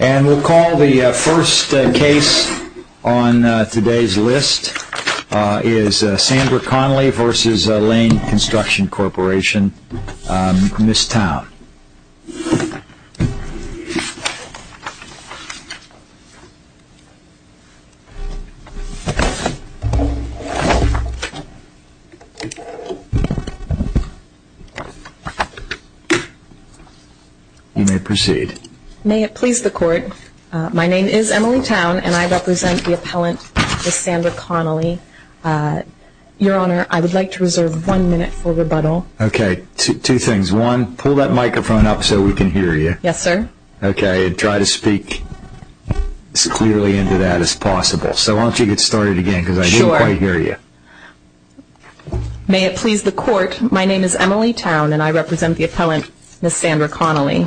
And we'll call the first case on today's list is Sandra Connelly v. Lane Construction Corp. Ms. Town. You may proceed. May it please the Court, my name is Emily Town and I represent the appellant Ms. Sandra Connelly. Your Honor, I would like to reserve one minute for rebuttal. Okay, two things. One, pull that microphone up so we can hear you. Yes, sir. Okay, try to speak as clearly into that as possible. So why don't you get started again because I didn't quite hear you. May it please the Court, my name is Emily Town and I represent the appellant Ms. Sandra Connelly.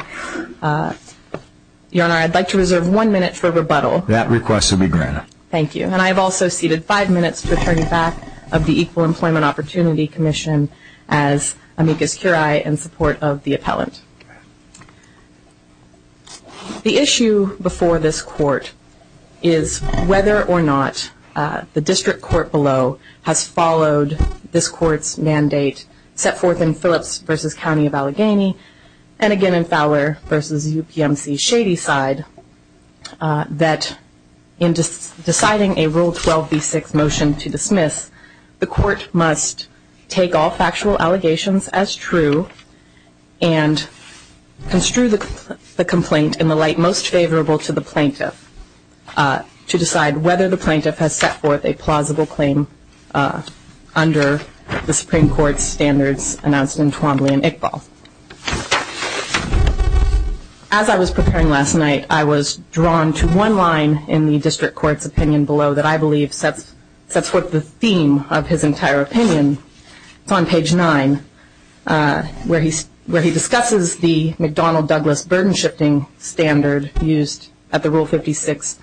Your Honor, I would like to reserve one minute for rebuttal. That request will be granted. Thank you. And I have also ceded five minutes to the attorney back of the Equal Employment Opportunity Commission as amicus curiae in support of the appellant. The issue before this Court is whether or not the district court below has followed this Court's mandate set forth in Phillips v. County of Allegheny and again in Fowler v. UPMC Shadyside that in deciding a Rule 12 v. 6 motion to dismiss, the Court must take all factual allegations as true and construe the complaint in the light most favorable to the plaintiff to decide whether the plaintiff has set forth a plausible claim under the Supreme Court's standards announced in Twombly and Iqbal. As I was preparing last night, I was drawn to one line in the district court's opinion below that I believe sets forth the theme of his entire opinion. It's on page 9 where he discusses the McDonnell-Douglas burden shifting standard used at the Rule 56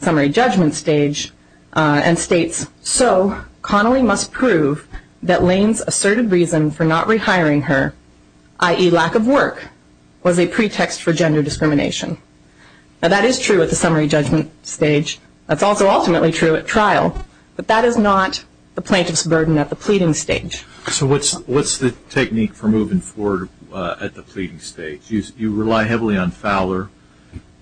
summary judgment stage and states, So Connelly must prove that Lane's asserted reason for not rehiring her, i.e. lack of work, was a pretext for gender discrimination. Now that is true at the summary judgment stage. That's also ultimately true at trial. But that is not the plaintiff's burden at the pleading stage. So what's the technique for moving forward at the pleading stage? You rely heavily on Fowler.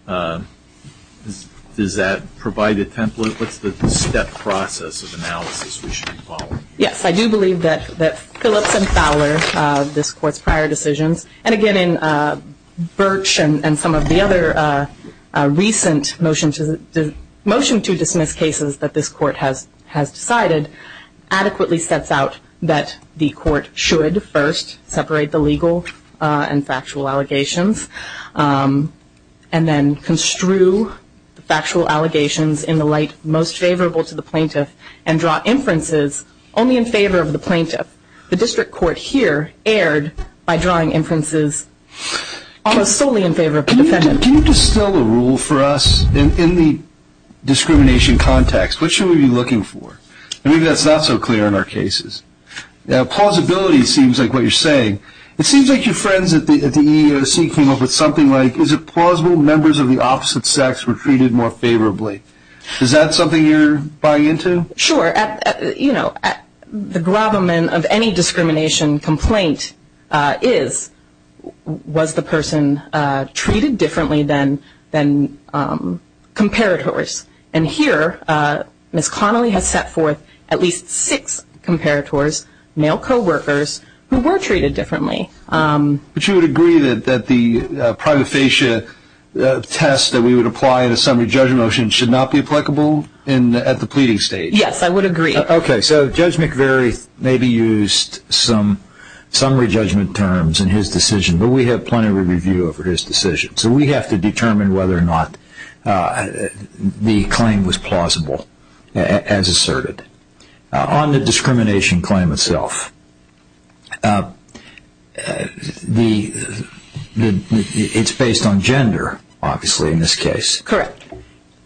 Does that provide a template? What's the step process of analysis we should be following? Yes, I do believe that Phillips and Fowler, this court's prior decisions, and again in Birch and some of the other recent motion to dismiss cases that this court has decided, adequately sets out that the court should first separate the legal and factual allegations and then construe the factual allegations in the light most favorable to the plaintiff and draw inferences only in favor of the plaintiff. The district court here erred by drawing inferences almost solely in favor of the defendant. Can you distill a rule for us in the discrimination context? What should we be looking for? Maybe that's not so clear in our cases. Pausability seems like what you're saying. It seems like your friends at the EEOC came up with something like, is it plausible members of the opposite sex were treated more favorably? Is that something you're buying into? Sure. The gravamen of any discrimination complaint is, was the person treated differently than comparators? And here, Ms. Connolly has set forth at least six comparators, male co-workers, who were treated differently. But you would agree that the prima facie test that we would apply in a summary judgment motion should not be applicable at the pleading stage? Yes, I would agree. Okay, so Judge McVeary maybe used some summary judgment terms in his decision, but we have plenty of review over his decision. So we have to determine whether or not the claim was plausible, as asserted. On the discrimination claim itself, it's based on gender, obviously, in this case. Correct.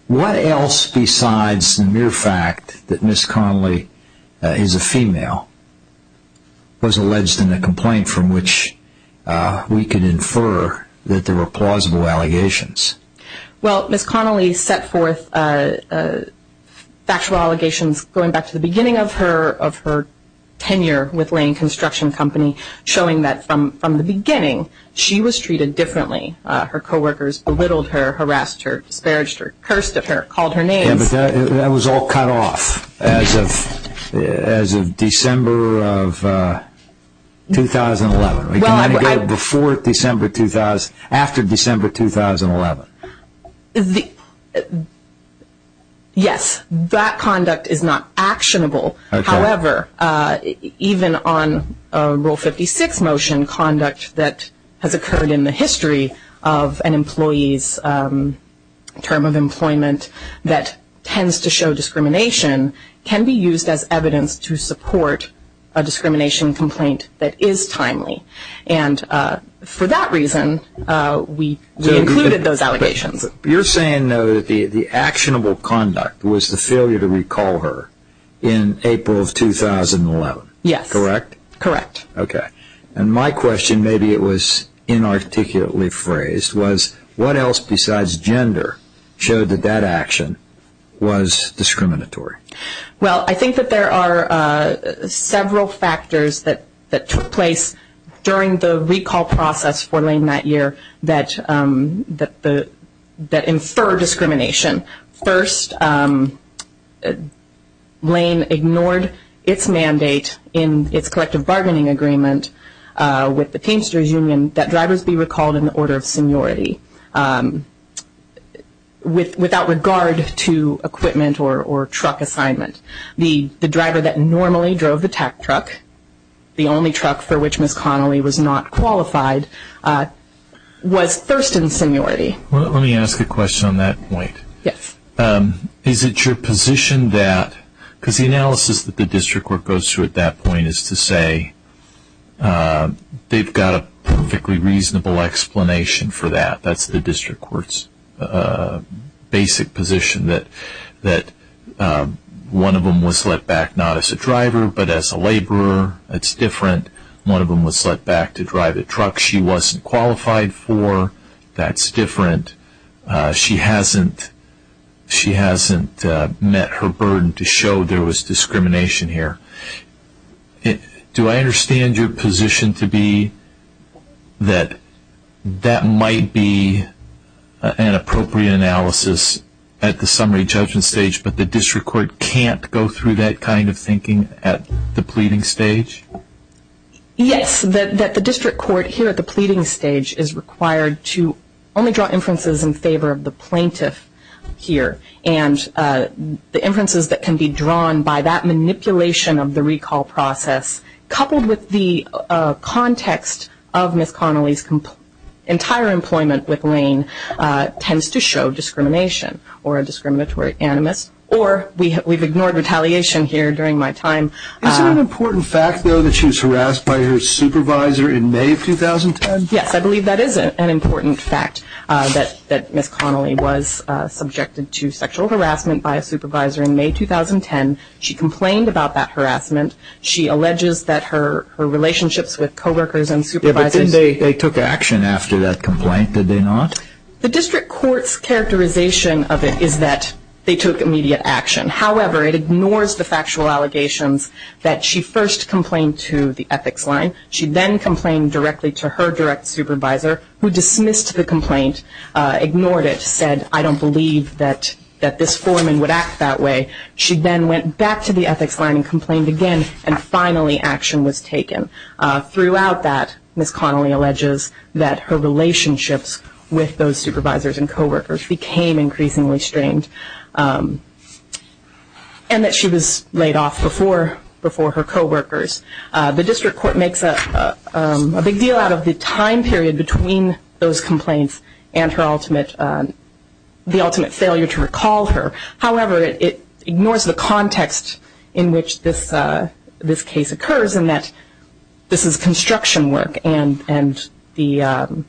What else besides the mere fact that Ms. Connolly is a female was alleged in the complaint from which we could infer that there were plausible allegations? Well, Ms. Connolly set forth factual allegations going back to the beginning of her tenure with Lane Construction Company, showing that from the beginning, she was treated differently. Her co-workers belittled her, harassed her, disparaged her, cursed at her, called her names. Yeah, but that was all cut off as of December of 2011. Well, I Before December, after December 2011. Yes, that conduct is not actionable. However, even on Rule 56 motion, conduct that has occurred in the history of an employee's term of employment that tends to show discrimination can be used as evidence to support a discrimination complaint that is timely. And for that reason, we included those allegations. You're saying, though, that the actionable conduct was the failure to recall her in April of 2011. Yes. Correct? Correct. Okay. And my question, maybe it was inarticulately phrased, was what else besides gender showed that that action was discriminatory? Well, I think that there are several factors that took place during the recall process for Lane that year that infer discrimination. First, Lane ignored its mandate in its collective bargaining agreement with the Teamsters Union that drivers be recalled in the order of seniority without regard to equipment or truck assignment. The driver that normally drove the TAC truck, the only truck for which Ms. Connolly was not qualified, was first in seniority. Let me ask a question on that point. Yes. Is it your position that, because the analysis that the district court goes through at that point is to say they've got a perfectly reasonable explanation for that. That's the district court's basic position that one of them was let back not as a driver but as a laborer. That's different. One of them was let back to drive a truck she wasn't qualified for. That's different. She hasn't met her burden to show there was discrimination here. Do I understand your position to be that that might be an appropriate analysis at the summary judgment stage, but the district court can't go through that kind of thinking at the pleading stage? Yes, that the district court here at the pleading stage is required to only draw inferences in favor of the plaintiff here. And the inferences that can be drawn by that manipulation of the recall process, coupled with the context of Ms. Connolly's entire employment with Lane, tends to show discrimination or a discriminatory animus. Or we've ignored retaliation here during my time. Is it an important fact, though, that she was harassed by her supervisor in May of 2010? Yes, I believe that is an important fact, that Ms. Connolly was subjected to sexual harassment by a supervisor in May of 2010. She complained about that harassment. She alleges that her relationships with co-workers and supervisors But then they took action after that complaint, did they not? The district court's characterization of it is that they took immediate action. However, it ignores the factual allegations that she first complained to the ethics line. She then complained directly to her direct supervisor, who dismissed the complaint, ignored it, said, I don't believe that this foreman would act that way. She then went back to the ethics line and complained again, and finally action was taken. Throughout that, Ms. Connolly alleges that her relationships with those supervisors and co-workers became increasingly strained and that she was laid off before her co-workers. The district court makes a big deal out of the time period between those complaints and the ultimate failure to recall her. However, it ignores the context in which this case occurs and that this is construction work and the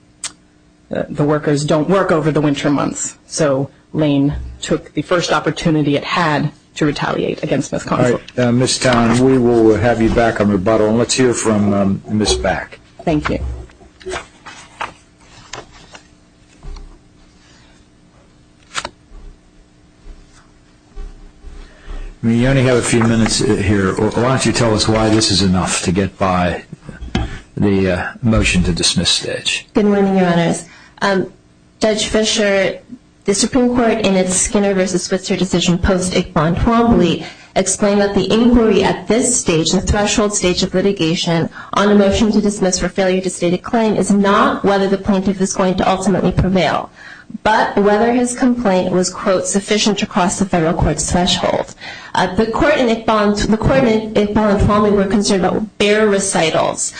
workers don't work over the winter months. So Lane took the first opportunity it had to retaliate against Ms. Connolly. Ms. Town, we will have you back on rebuttal. Let's hear from Ms. Back. Thank you. We only have a few minutes here. Why don't you tell us why this is enough to get by the motion to dismiss stage. Good morning, Your Honors. Judge Fischer, the Supreme Court in its Skinner v. Switzer decision post-Iqbal and Twombly explained that the inquiry at this stage, the threshold stage of litigation, on a motion to dismiss for failure to state a claim, is not whether the plaintiff is going to ultimately prevail, but whether his complaint was, quote, sufficient to cross the federal court's threshold. The court and Iqbal and Twombly were concerned about bare recitals,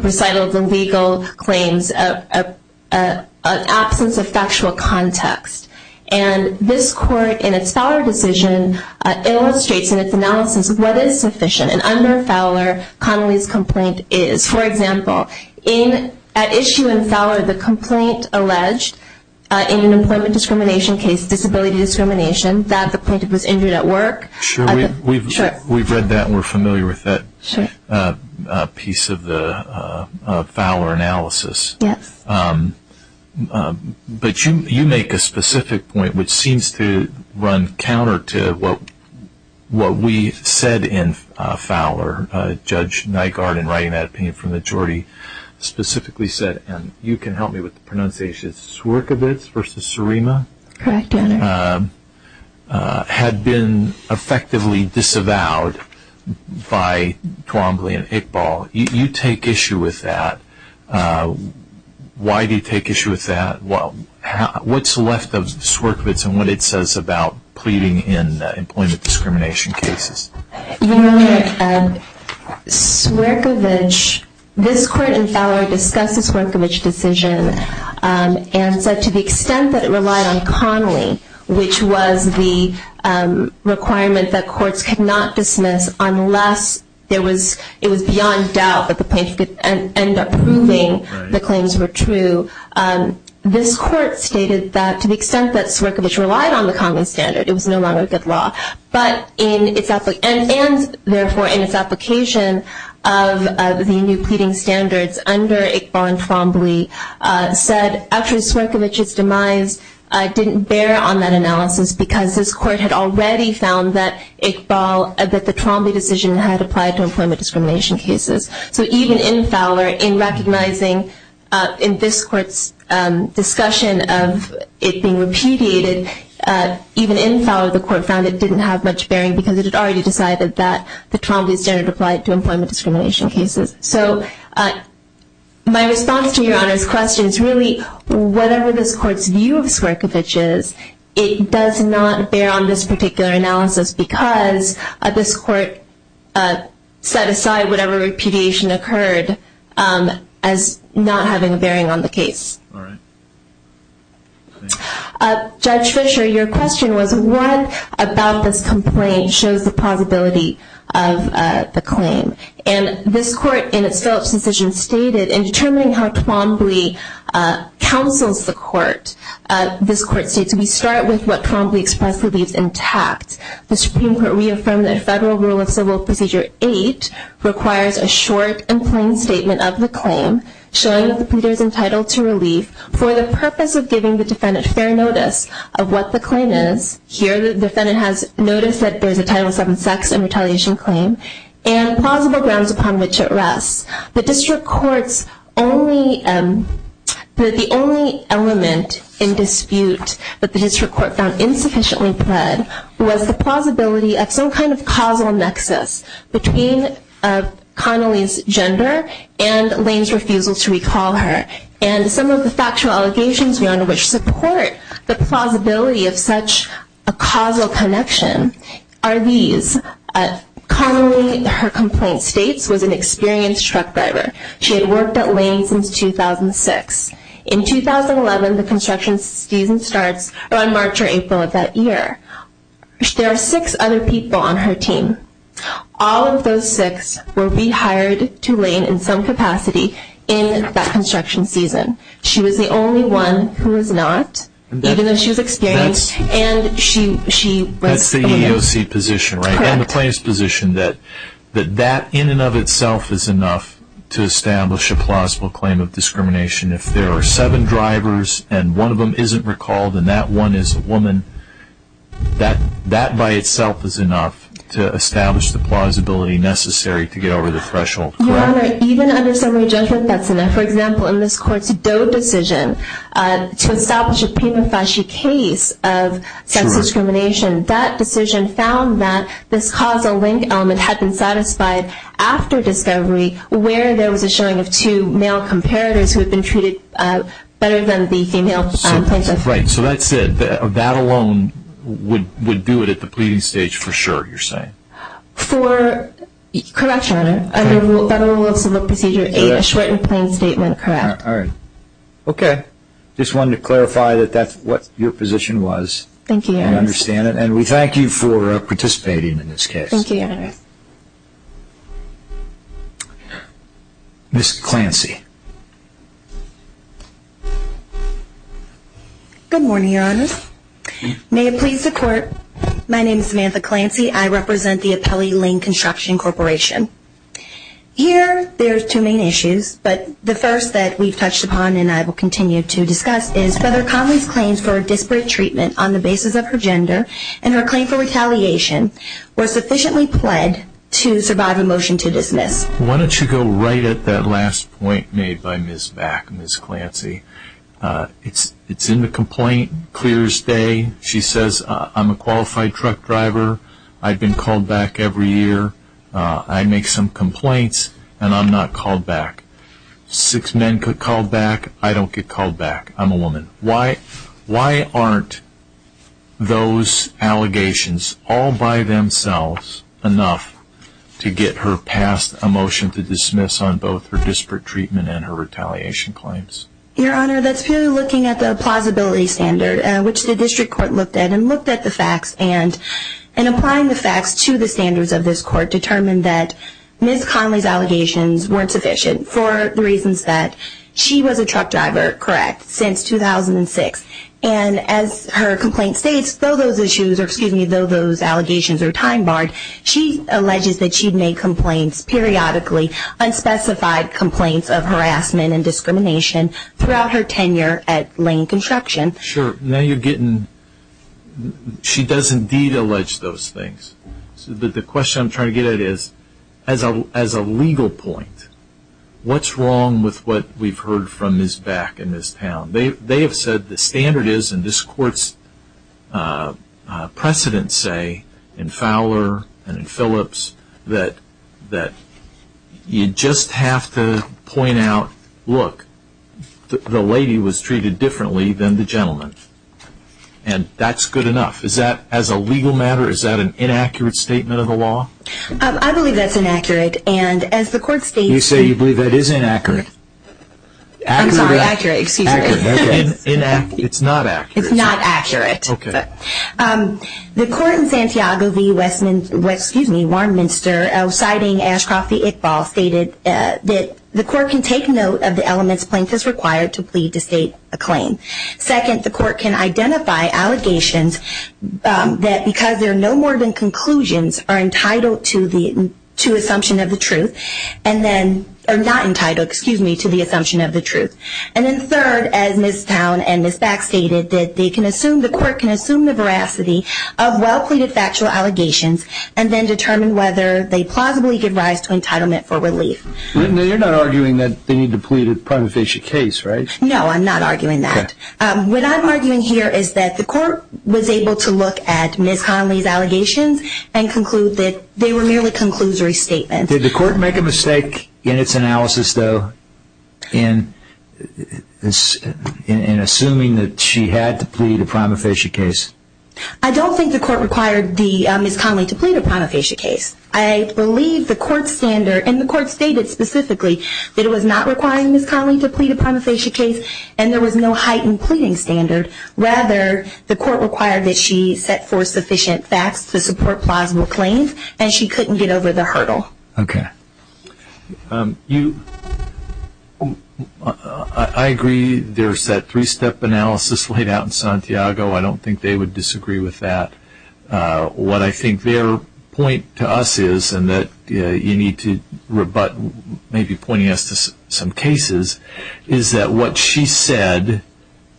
recitals of illegal claims, an absence of factual context. And this court, in its Fowler decision, illustrates in its analysis what is sufficient. And under Fowler, Connolly's complaint is, for example, at issue in Fowler, the complaint alleged in an employment discrimination case, disability discrimination, that the plaintiff was injured at work. Sure, we've read that and we're familiar with that piece of the Fowler analysis. Yes. But you make a specific point which seems to run counter to what we said in Fowler. Judge Nygaard, in writing that opinion for the majority, specifically said, and you can help me with the pronunciation, Swierkiewicz v. Surima? Correct, Your Honor. Had been effectively disavowed by Twombly and Iqbal. You take issue with that. Why do you take issue with that? What's left of Swierkiewicz and what it says about pleading in employment discrimination cases? Your Honor, Swierkiewicz, this court in Fowler discussed the Swierkiewicz decision and said to the extent that it relied on Connolly, which was the requirement that courts could not dismiss unless it was beyond doubt that the plaintiff could end up proving the claims were true, this court stated that to the extent that Swierkiewicz relied on the Connolly standard, it was no longer a good law. And therefore, in its application of the new pleading standards under Iqbal and Twombly, said actually Swierkiewicz's demise didn't bear on that analysis because this court had already found that Iqbal, that the Twombly decision had applied to employment discrimination cases. So even in Fowler, in recognizing in this court's discussion of it being repudiated, even in Fowler the court found it didn't have much bearing because it had already decided that the Twombly standard applied to employment discrimination cases. So my response to Your Honor's question is really whatever this court's view of Swierkiewicz is, it does not bear on this particular analysis because this court set aside whatever repudiation occurred as not having a bearing on the case. All right. Judge Fischer, your question was what about this complaint shows the plausibility of the claim? And this court in its Phillips decision stated, in determining how Twombly counsels the court, this court states we start with what Twombly expressly leaves intact. The Supreme Court reaffirmed that Federal Rule of Civil Procedure 8 requires a short and plain statement of the claim showing that the pleader is entitled to relief for the purpose of giving the defendant fair notice of what the claim is. Here the defendant has noticed that there is a Title VII sex and retaliation claim and plausible grounds upon which it rests. The district court's only, the only element in dispute that the district court found insufficiently pled was the plausibility of some kind of causal nexus between Connolly's gender and Lane's refusal to recall her. And some of the factual allegations, Your Honor, which support the plausibility of such a causal connection are these. Connolly, her complaint states, was an experienced truck driver. She had worked at Lane since 2006. In 2011, the construction season starts around March or April of that year. There are six other people on her team. All of those six will be hired to Lane in some capacity in that construction season. She was the only one who was not, even though she was experienced, That's the EEOC position, right? Correct. And the plaintiff's position that that in and of itself is enough to establish a plausible claim of discrimination. If there are seven drivers and one of them isn't recalled and that one is a woman, that by itself is enough to establish the plausibility necessary to get over the threshold, correct? Your Honor, even under summary judgment, that's enough. For example, in this court's Doe decision, to establish a prima facie case of sex discrimination, that decision found that this causal link element had been satisfied after discovery where there was a showing of two male comparators who had been treated better than the female plaintiff. Right. So that's it. That alone would do it at the pleading stage for sure, you're saying? Correct, Your Honor. Under Federal Rules of Civil Procedure 8, a short and plain statement, correct. All right. Okay. Just wanted to clarify that that's what your position was. Thank you, Your Honor. I understand it. And we thank you for participating in this case. Thank you, Your Honor. Ms. Clancy. Good morning, Your Honor. May it please the Court, my name is Samantha Clancy. I represent the Apelli Lane Construction Corporation. Here there are two main issues, but the first that we've touched upon and I will continue to discuss is whether Conley's claims for a disparate treatment on the basis of her gender and her claim for retaliation were sufficiently pled to survive a motion to dismiss. Why don't you go right at that last point made by Ms. Vack, Ms. Clancy. It's in the complaint, clear as day. She says, I'm a qualified truck driver. I've been called back every year. I make some complaints and I'm not called back. Six men could call back. I don't get called back. I'm a woman. Why aren't those allegations all by themselves enough to get her passed a motion to dismiss on both her disparate treatment and her retaliation claims? Your Honor, that's purely looking at the plausibility standard, which the district court looked at and looked at the facts and applying the facts to the standards of this court determined that Ms. Conley's allegations weren't sufficient for the reasons that she was a truck driver, correct, since 2006. And as her complaint states, though those issues, or excuse me, though those allegations are time barred, she alleges that she made complaints periodically, unspecified complaints of harassment and discrimination throughout her tenure at Lane Construction. Sure. Now you're getting, she does indeed allege those things. But the question I'm trying to get at is, as a legal point, what's wrong with what we've heard from Ms. Back and Ms. Town? They have said the standard is, and this court's precedents say in Fowler and in Phillips, that you just have to point out, look, the lady was treated differently than the gentleman. And that's good enough. Is that, as a legal matter, is that an inaccurate statement of the law? I believe that's inaccurate. And as the court states, You say you believe that is inaccurate. I'm sorry, accurate, excuse me. Inaccurate. It's not accurate. It's not accurate. Okay. The court in Santiago v. Warnminster, citing Ashcroft v. Iqbal, stated that the court can take note of the elements plaintiff's required to plead to state a claim. Second, the court can identify allegations that, because there are no more than conclusions, are entitled to the assumption of the truth, and then are not entitled, excuse me, to the assumption of the truth. And then third, as Ms. Town and Ms. Back stated, that they can assume, the court can assume the veracity of well-pleaded factual allegations and then determine whether they plausibly give rise to entitlement for relief. You're not arguing that they need to plead a prima facie case, right? No, I'm not arguing that. What I'm arguing here is that the court was able to look at Ms. Conley's allegations and conclude that they were merely conclusory statements. Did the court make a mistake in its analysis, though, in assuming that she had to plead a prima facie case? I don't think the court required Ms. Conley to plead a prima facie case. I believe the court's standard, and the court stated specifically that it was not requiring Ms. Conley to plead a prima facie case and there was no heightened pleading standard. Rather, the court required that she set forth sufficient facts to support plausible claims, and she couldn't get over the hurdle. Okay. I agree there's that three-step analysis laid out in Santiago. I don't think they would disagree with that. What I think their point to us is, and that you need to rebut maybe pointing us to some cases, is that what she said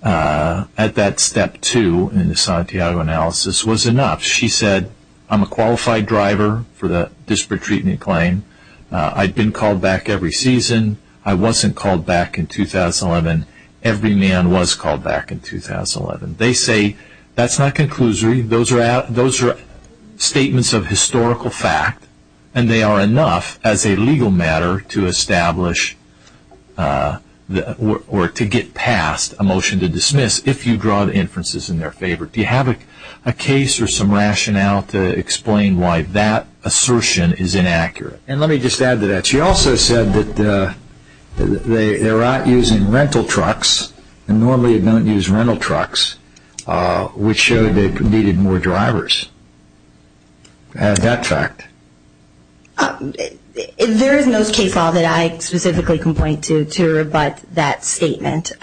at that step two in the Santiago analysis was enough. She said, I'm a qualified driver for the disparate treatment claim. I've been called back every season. I wasn't called back in 2011. Every man was called back in 2011. They say that's not conclusory. Those are statements of historical fact, and they are enough as a legal matter to establish or to get past a motion to dismiss if you draw inferences in their favor. Do you have a case or some rationale to explain why that assertion is inaccurate? Let me just add to that. She also said that they're not using rental trucks, and normally they don't use rental trucks, which showed they needed more drivers. Add that fact. There is no case law that I specifically can point to to rebut that statement.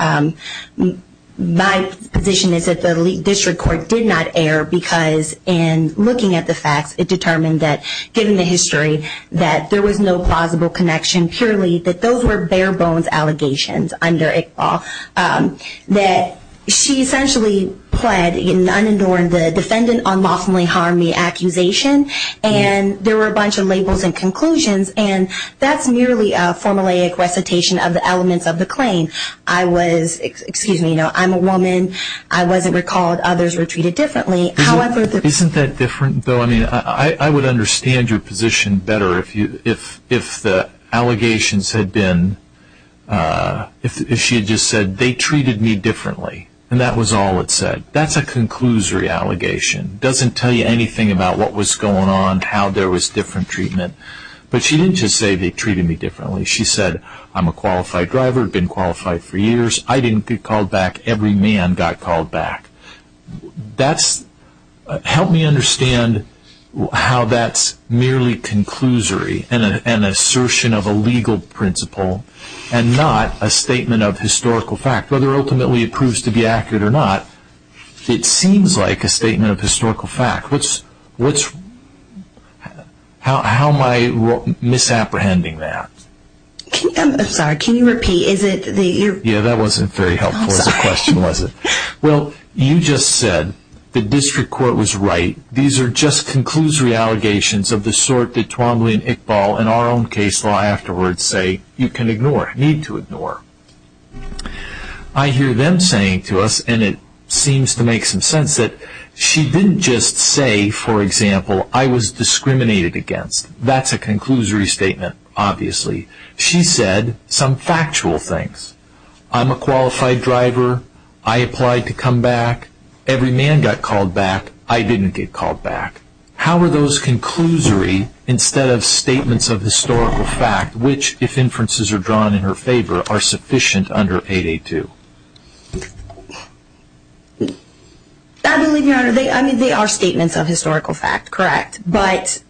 My position is that the district court did not err because in looking at the facts, it determined that given the history that there was no plausible connection purely that those were bare bones allegations under ICBAW, that she essentially pled in unenduring the defendant unlawfully harmed me accusation, and there were a bunch of labels and conclusions, and that's merely a formulaic recitation of the elements of the claim. I was, excuse me, I'm a woman. I wasn't recalled. Others were treated differently. Isn't that different, though? I mean, I would understand your position better if the allegations had been, if she had just said they treated me differently, and that was all it said. That's a conclusory allegation. It doesn't tell you anything about what was going on, how there was different treatment, but she didn't just say they treated me differently. She said I'm a qualified driver, been qualified for years. I didn't get called back. Every man got called back. That's, help me understand how that's merely conclusory and an assertion of a legal principle and not a statement of historical fact, whether ultimately it proves to be accurate or not. It seems like a statement of historical fact. What's, how am I misapprehending that? I'm sorry, can you repeat? Yeah, that wasn't very helpful as a question, was it? Well, you just said the district court was right. These are just conclusory allegations of the sort that Twombly and Iqbal and our own case law afterwards say you can ignore, need to ignore. I hear them saying to us, and it seems to make some sense, that she didn't just say, for example, I was discriminated against. That's a conclusory statement, obviously. She said some factual things. I'm a qualified driver. I applied to come back. Every man got called back. I didn't get called back. How are those conclusory instead of statements of historical fact, which, if inferences are drawn in her favor, are sufficient under 882? I believe, Your Honor, they are statements of historical fact, correct. But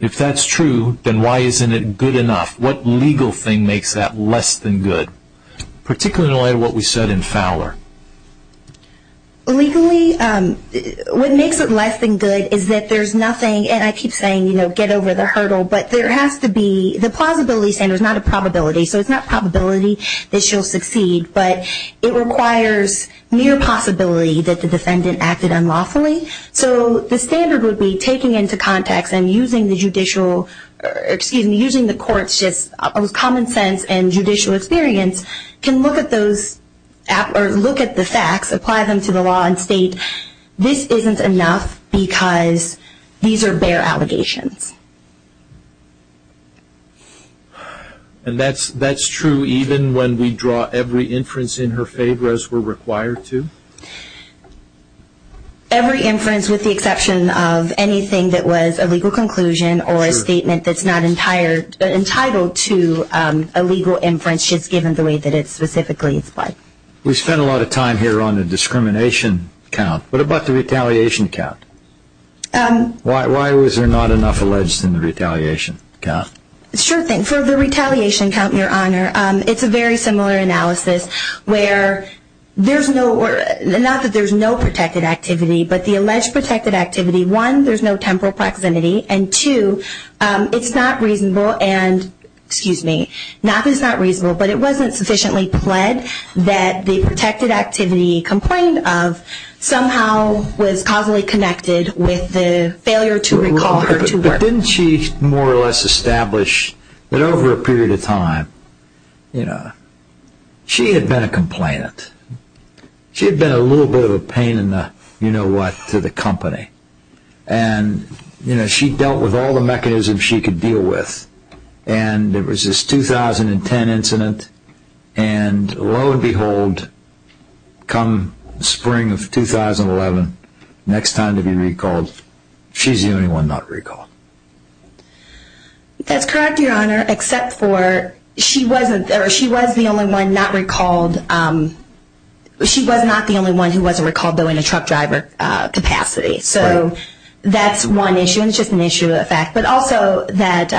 if that's true, then why isn't it good enough? What legal thing makes that less than good, particularly in light of what we said in Fowler? Legally, what makes it less than good is that there's nothing, and I keep saying, you know, get over the hurdle, but there has to be the plausibility standard is not a probability. So it's not probability that she'll succeed, but it requires near possibility that the defendant acted unlawfully. So the standard would be taking into context and using the judicial, excuse me, using the court's just common sense and judicial experience, can look at those, or look at the facts, apply them to the law, and state this isn't enough because these are bare allegations. And that's true even when we draw every inference in her favor as we're required to? Every inference with the exception of anything that was a legal conclusion or a statement that's not entitled to a legal inference, just given the way that it specifically is applied. We spent a lot of time here on the discrimination count. What about the retaliation count? Why was there not enough alleged in the retaliation count? Sure thing. For the retaliation count, Your Honor, it's a very similar analysis where there's no, not that there's no protected activity, but the alleged protected activity, one, there's no temporal proximity, and two, it's not reasonable and, excuse me, not that it's not reasonable, but it wasn't sufficiently pled that the protected activity complained of somehow was causally connected with the failure to recall or to work. Didn't she more or less establish that over a period of time, you know, she had been a complainant. She had been a little bit of a pain in the, you know what, to the company. And, you know, she dealt with all the mechanisms she could deal with, and there was this 2010 incident, and lo and behold, come spring of 2011, next time to be recalled, she's the only one not recalled. That's correct, Your Honor, except for she wasn't, or she was the only one not recalled. She was not the only one who wasn't recalled, though, in a truck driver capacity. So that's one issue, and it's just an issue of fact. But also that...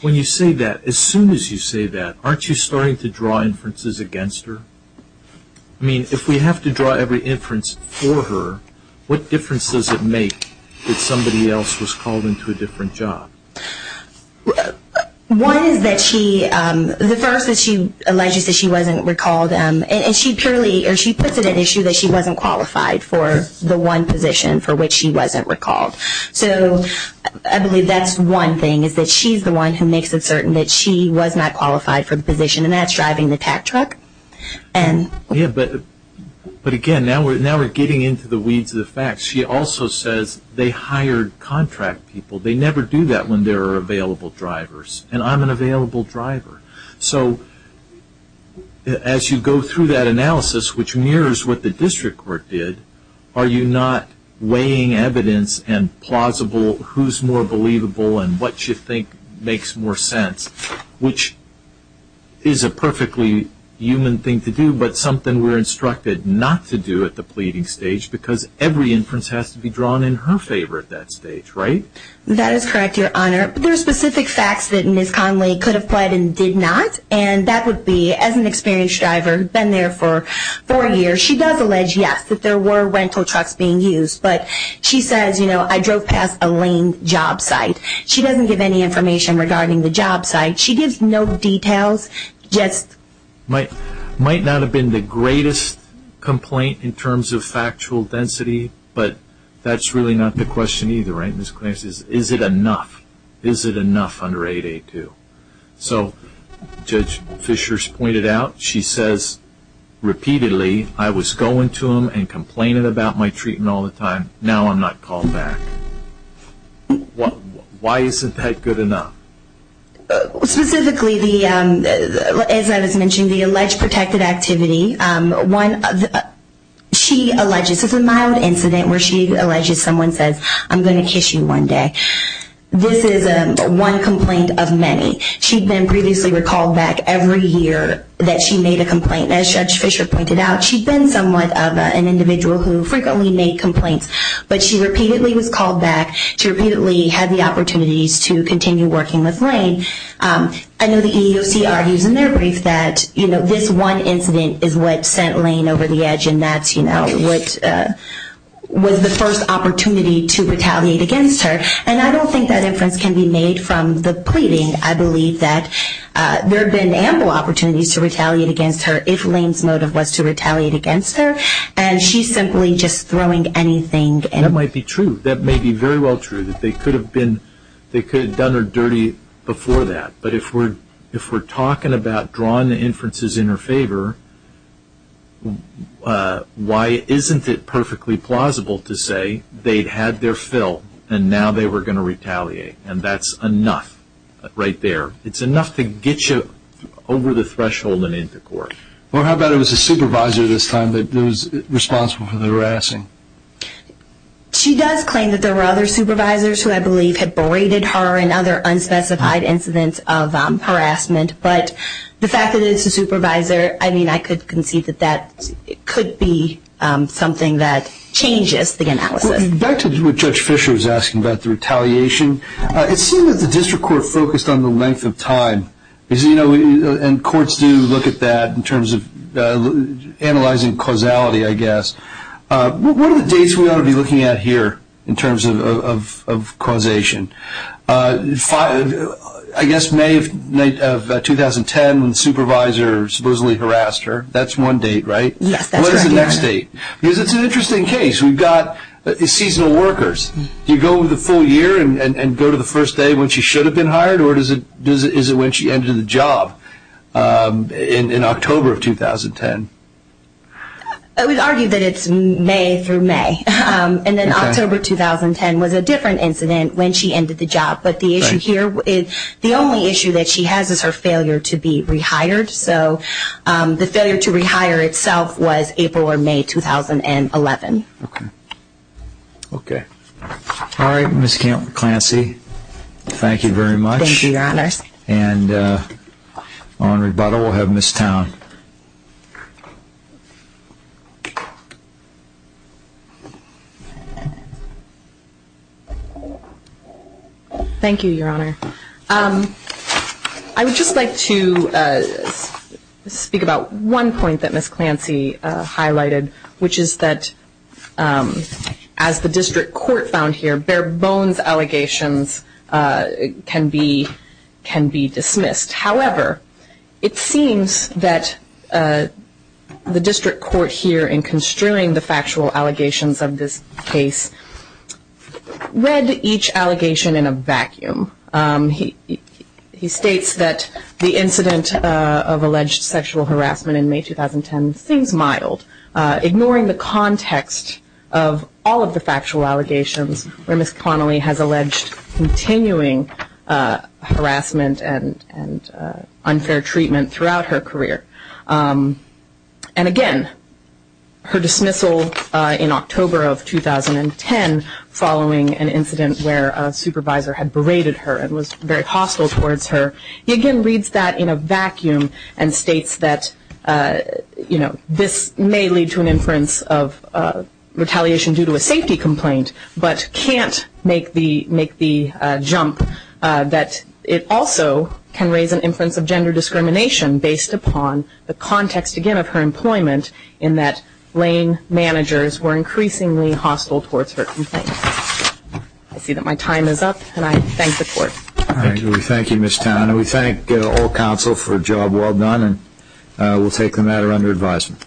When you say that, as soon as you say that, aren't you starting to draw inferences against her? I mean, if we have to draw every inference for her, what difference does it make that somebody else was called into a different job? One is that she, the first is she alleges that she wasn't recalled, and she purely, or she puts it at issue that she wasn't qualified for the one position for which she wasn't recalled. So I believe that's one thing, is that she's the one who makes it certain that she was not qualified for the position, and that's driving the pack truck. Yeah, but again, now we're getting into the weeds of the facts. She also says they hired contract people. They never do that when there are available drivers, and I'm an available driver. So as you go through that analysis, which mirrors what the district court did, are you not weighing evidence and plausible who's more believable and what you think makes more sense, which is a perfectly human thing to do but something we're instructed not to do at the pleading stage because every inference has to be drawn in her favor at that stage, right? That is correct, Your Honor. There are specific facts that Ms. Conley could have pled and did not, and that would be, as an experienced driver, been there for four years, she does allege, yes, that there were rental trucks being used, but she says, you know, I drove past a lame job site. She doesn't give any information regarding the job site. She gives no details, just... Might not have been the greatest complaint in terms of factual density, but that's really not the question either, right, Ms. Conley? Is it enough? Is it enough under 882? So Judge Fishers pointed out, she says repeatedly, I was going to them and complaining about my treatment all the time. Now I'm not called back. Why isn't that good enough? Specifically, as I was mentioning, the alleged protected activity. She alleges, this is a mild incident where she alleges someone says, I'm going to kiss you one day. This is one complaint of many. She'd been previously recalled back every year that she made a complaint. As Judge Fisher pointed out, she'd been somewhat of an individual who frequently made complaints, but she repeatedly was called back to repeatedly have the opportunities to continue working with Lane. I know the EEOC argues in their brief that, you know, this one incident is what sent Lane over the edge, and that's, you know, what was the first opportunity to retaliate against her. And I don't think that inference can be made from the pleading. I believe that there have been ample opportunities to retaliate against her if Lane's motive was to retaliate against her, and she's simply just throwing anything. That might be true. That may be very well true, that they could have done her dirty before that. But if we're talking about drawing the inferences in her favor, why isn't it perfectly plausible to say they'd had their fill and now they were going to retaliate, and that's enough right there. It's enough to get you over the threshold and into court. Well, how about it was a supervisor this time that was responsible for the harassing? She does claim that there were other supervisors who I believe had berated her and other unspecified incidents of harassment. But the fact that it's a supervisor, I mean, I could concede that that could be something that changes the analysis. Back to what Judge Fisher was asking about the retaliation, it seems that the district court focused on the length of time, and courts do look at that in terms of analyzing causality, I guess. What are the dates we ought to be looking at here in terms of causation? I guess May of 2010 when the supervisor supposedly harassed her, that's one date, right? Yes, that's right. What is the next date? Because it's an interesting case. We've got seasonal workers. Do you go over the full year and go to the first day when she should have been hired, or is it when she ended the job in October of 2010? We argue that it's May through May. And then October 2010 was a different incident when she ended the job. But the only issue that she has is her failure to be rehired. So the failure to rehire itself was April or May 2011. Okay. All right, Ms. Clancy, thank you very much. Thank you, Your Honor. And on rebuttal we'll have Ms. Town. Thank you, Your Honor. I would just like to speak about one point that Ms. Clancy highlighted, which is that as the district court found here, bare bones allegations can be dismissed. However, it seems that the district court here, in construing the factual allegations of this case, read each allegation in a vacuum. He states that the incident of alleged sexual harassment in May 2010 seems mild, ignoring the context of all of the factual allegations where Ms. Connolly has alleged continuing harassment and unfair treatment throughout her career. And again, her dismissal in October of 2010 following an incident where a supervisor had berated her and was very hostile towards her, he again reads that in a vacuum and states that this may lead to an inference of retaliation due to a safety complaint, but can't make the jump that it also can raise an inference of gender discrimination based upon the context, again, of her employment in that Lane managers were increasingly hostile towards her complaints. I see that my time is up and I thank the court. Thank you, Ms. Town. And we thank all counsel for a job well done and we'll take the matter under advisement.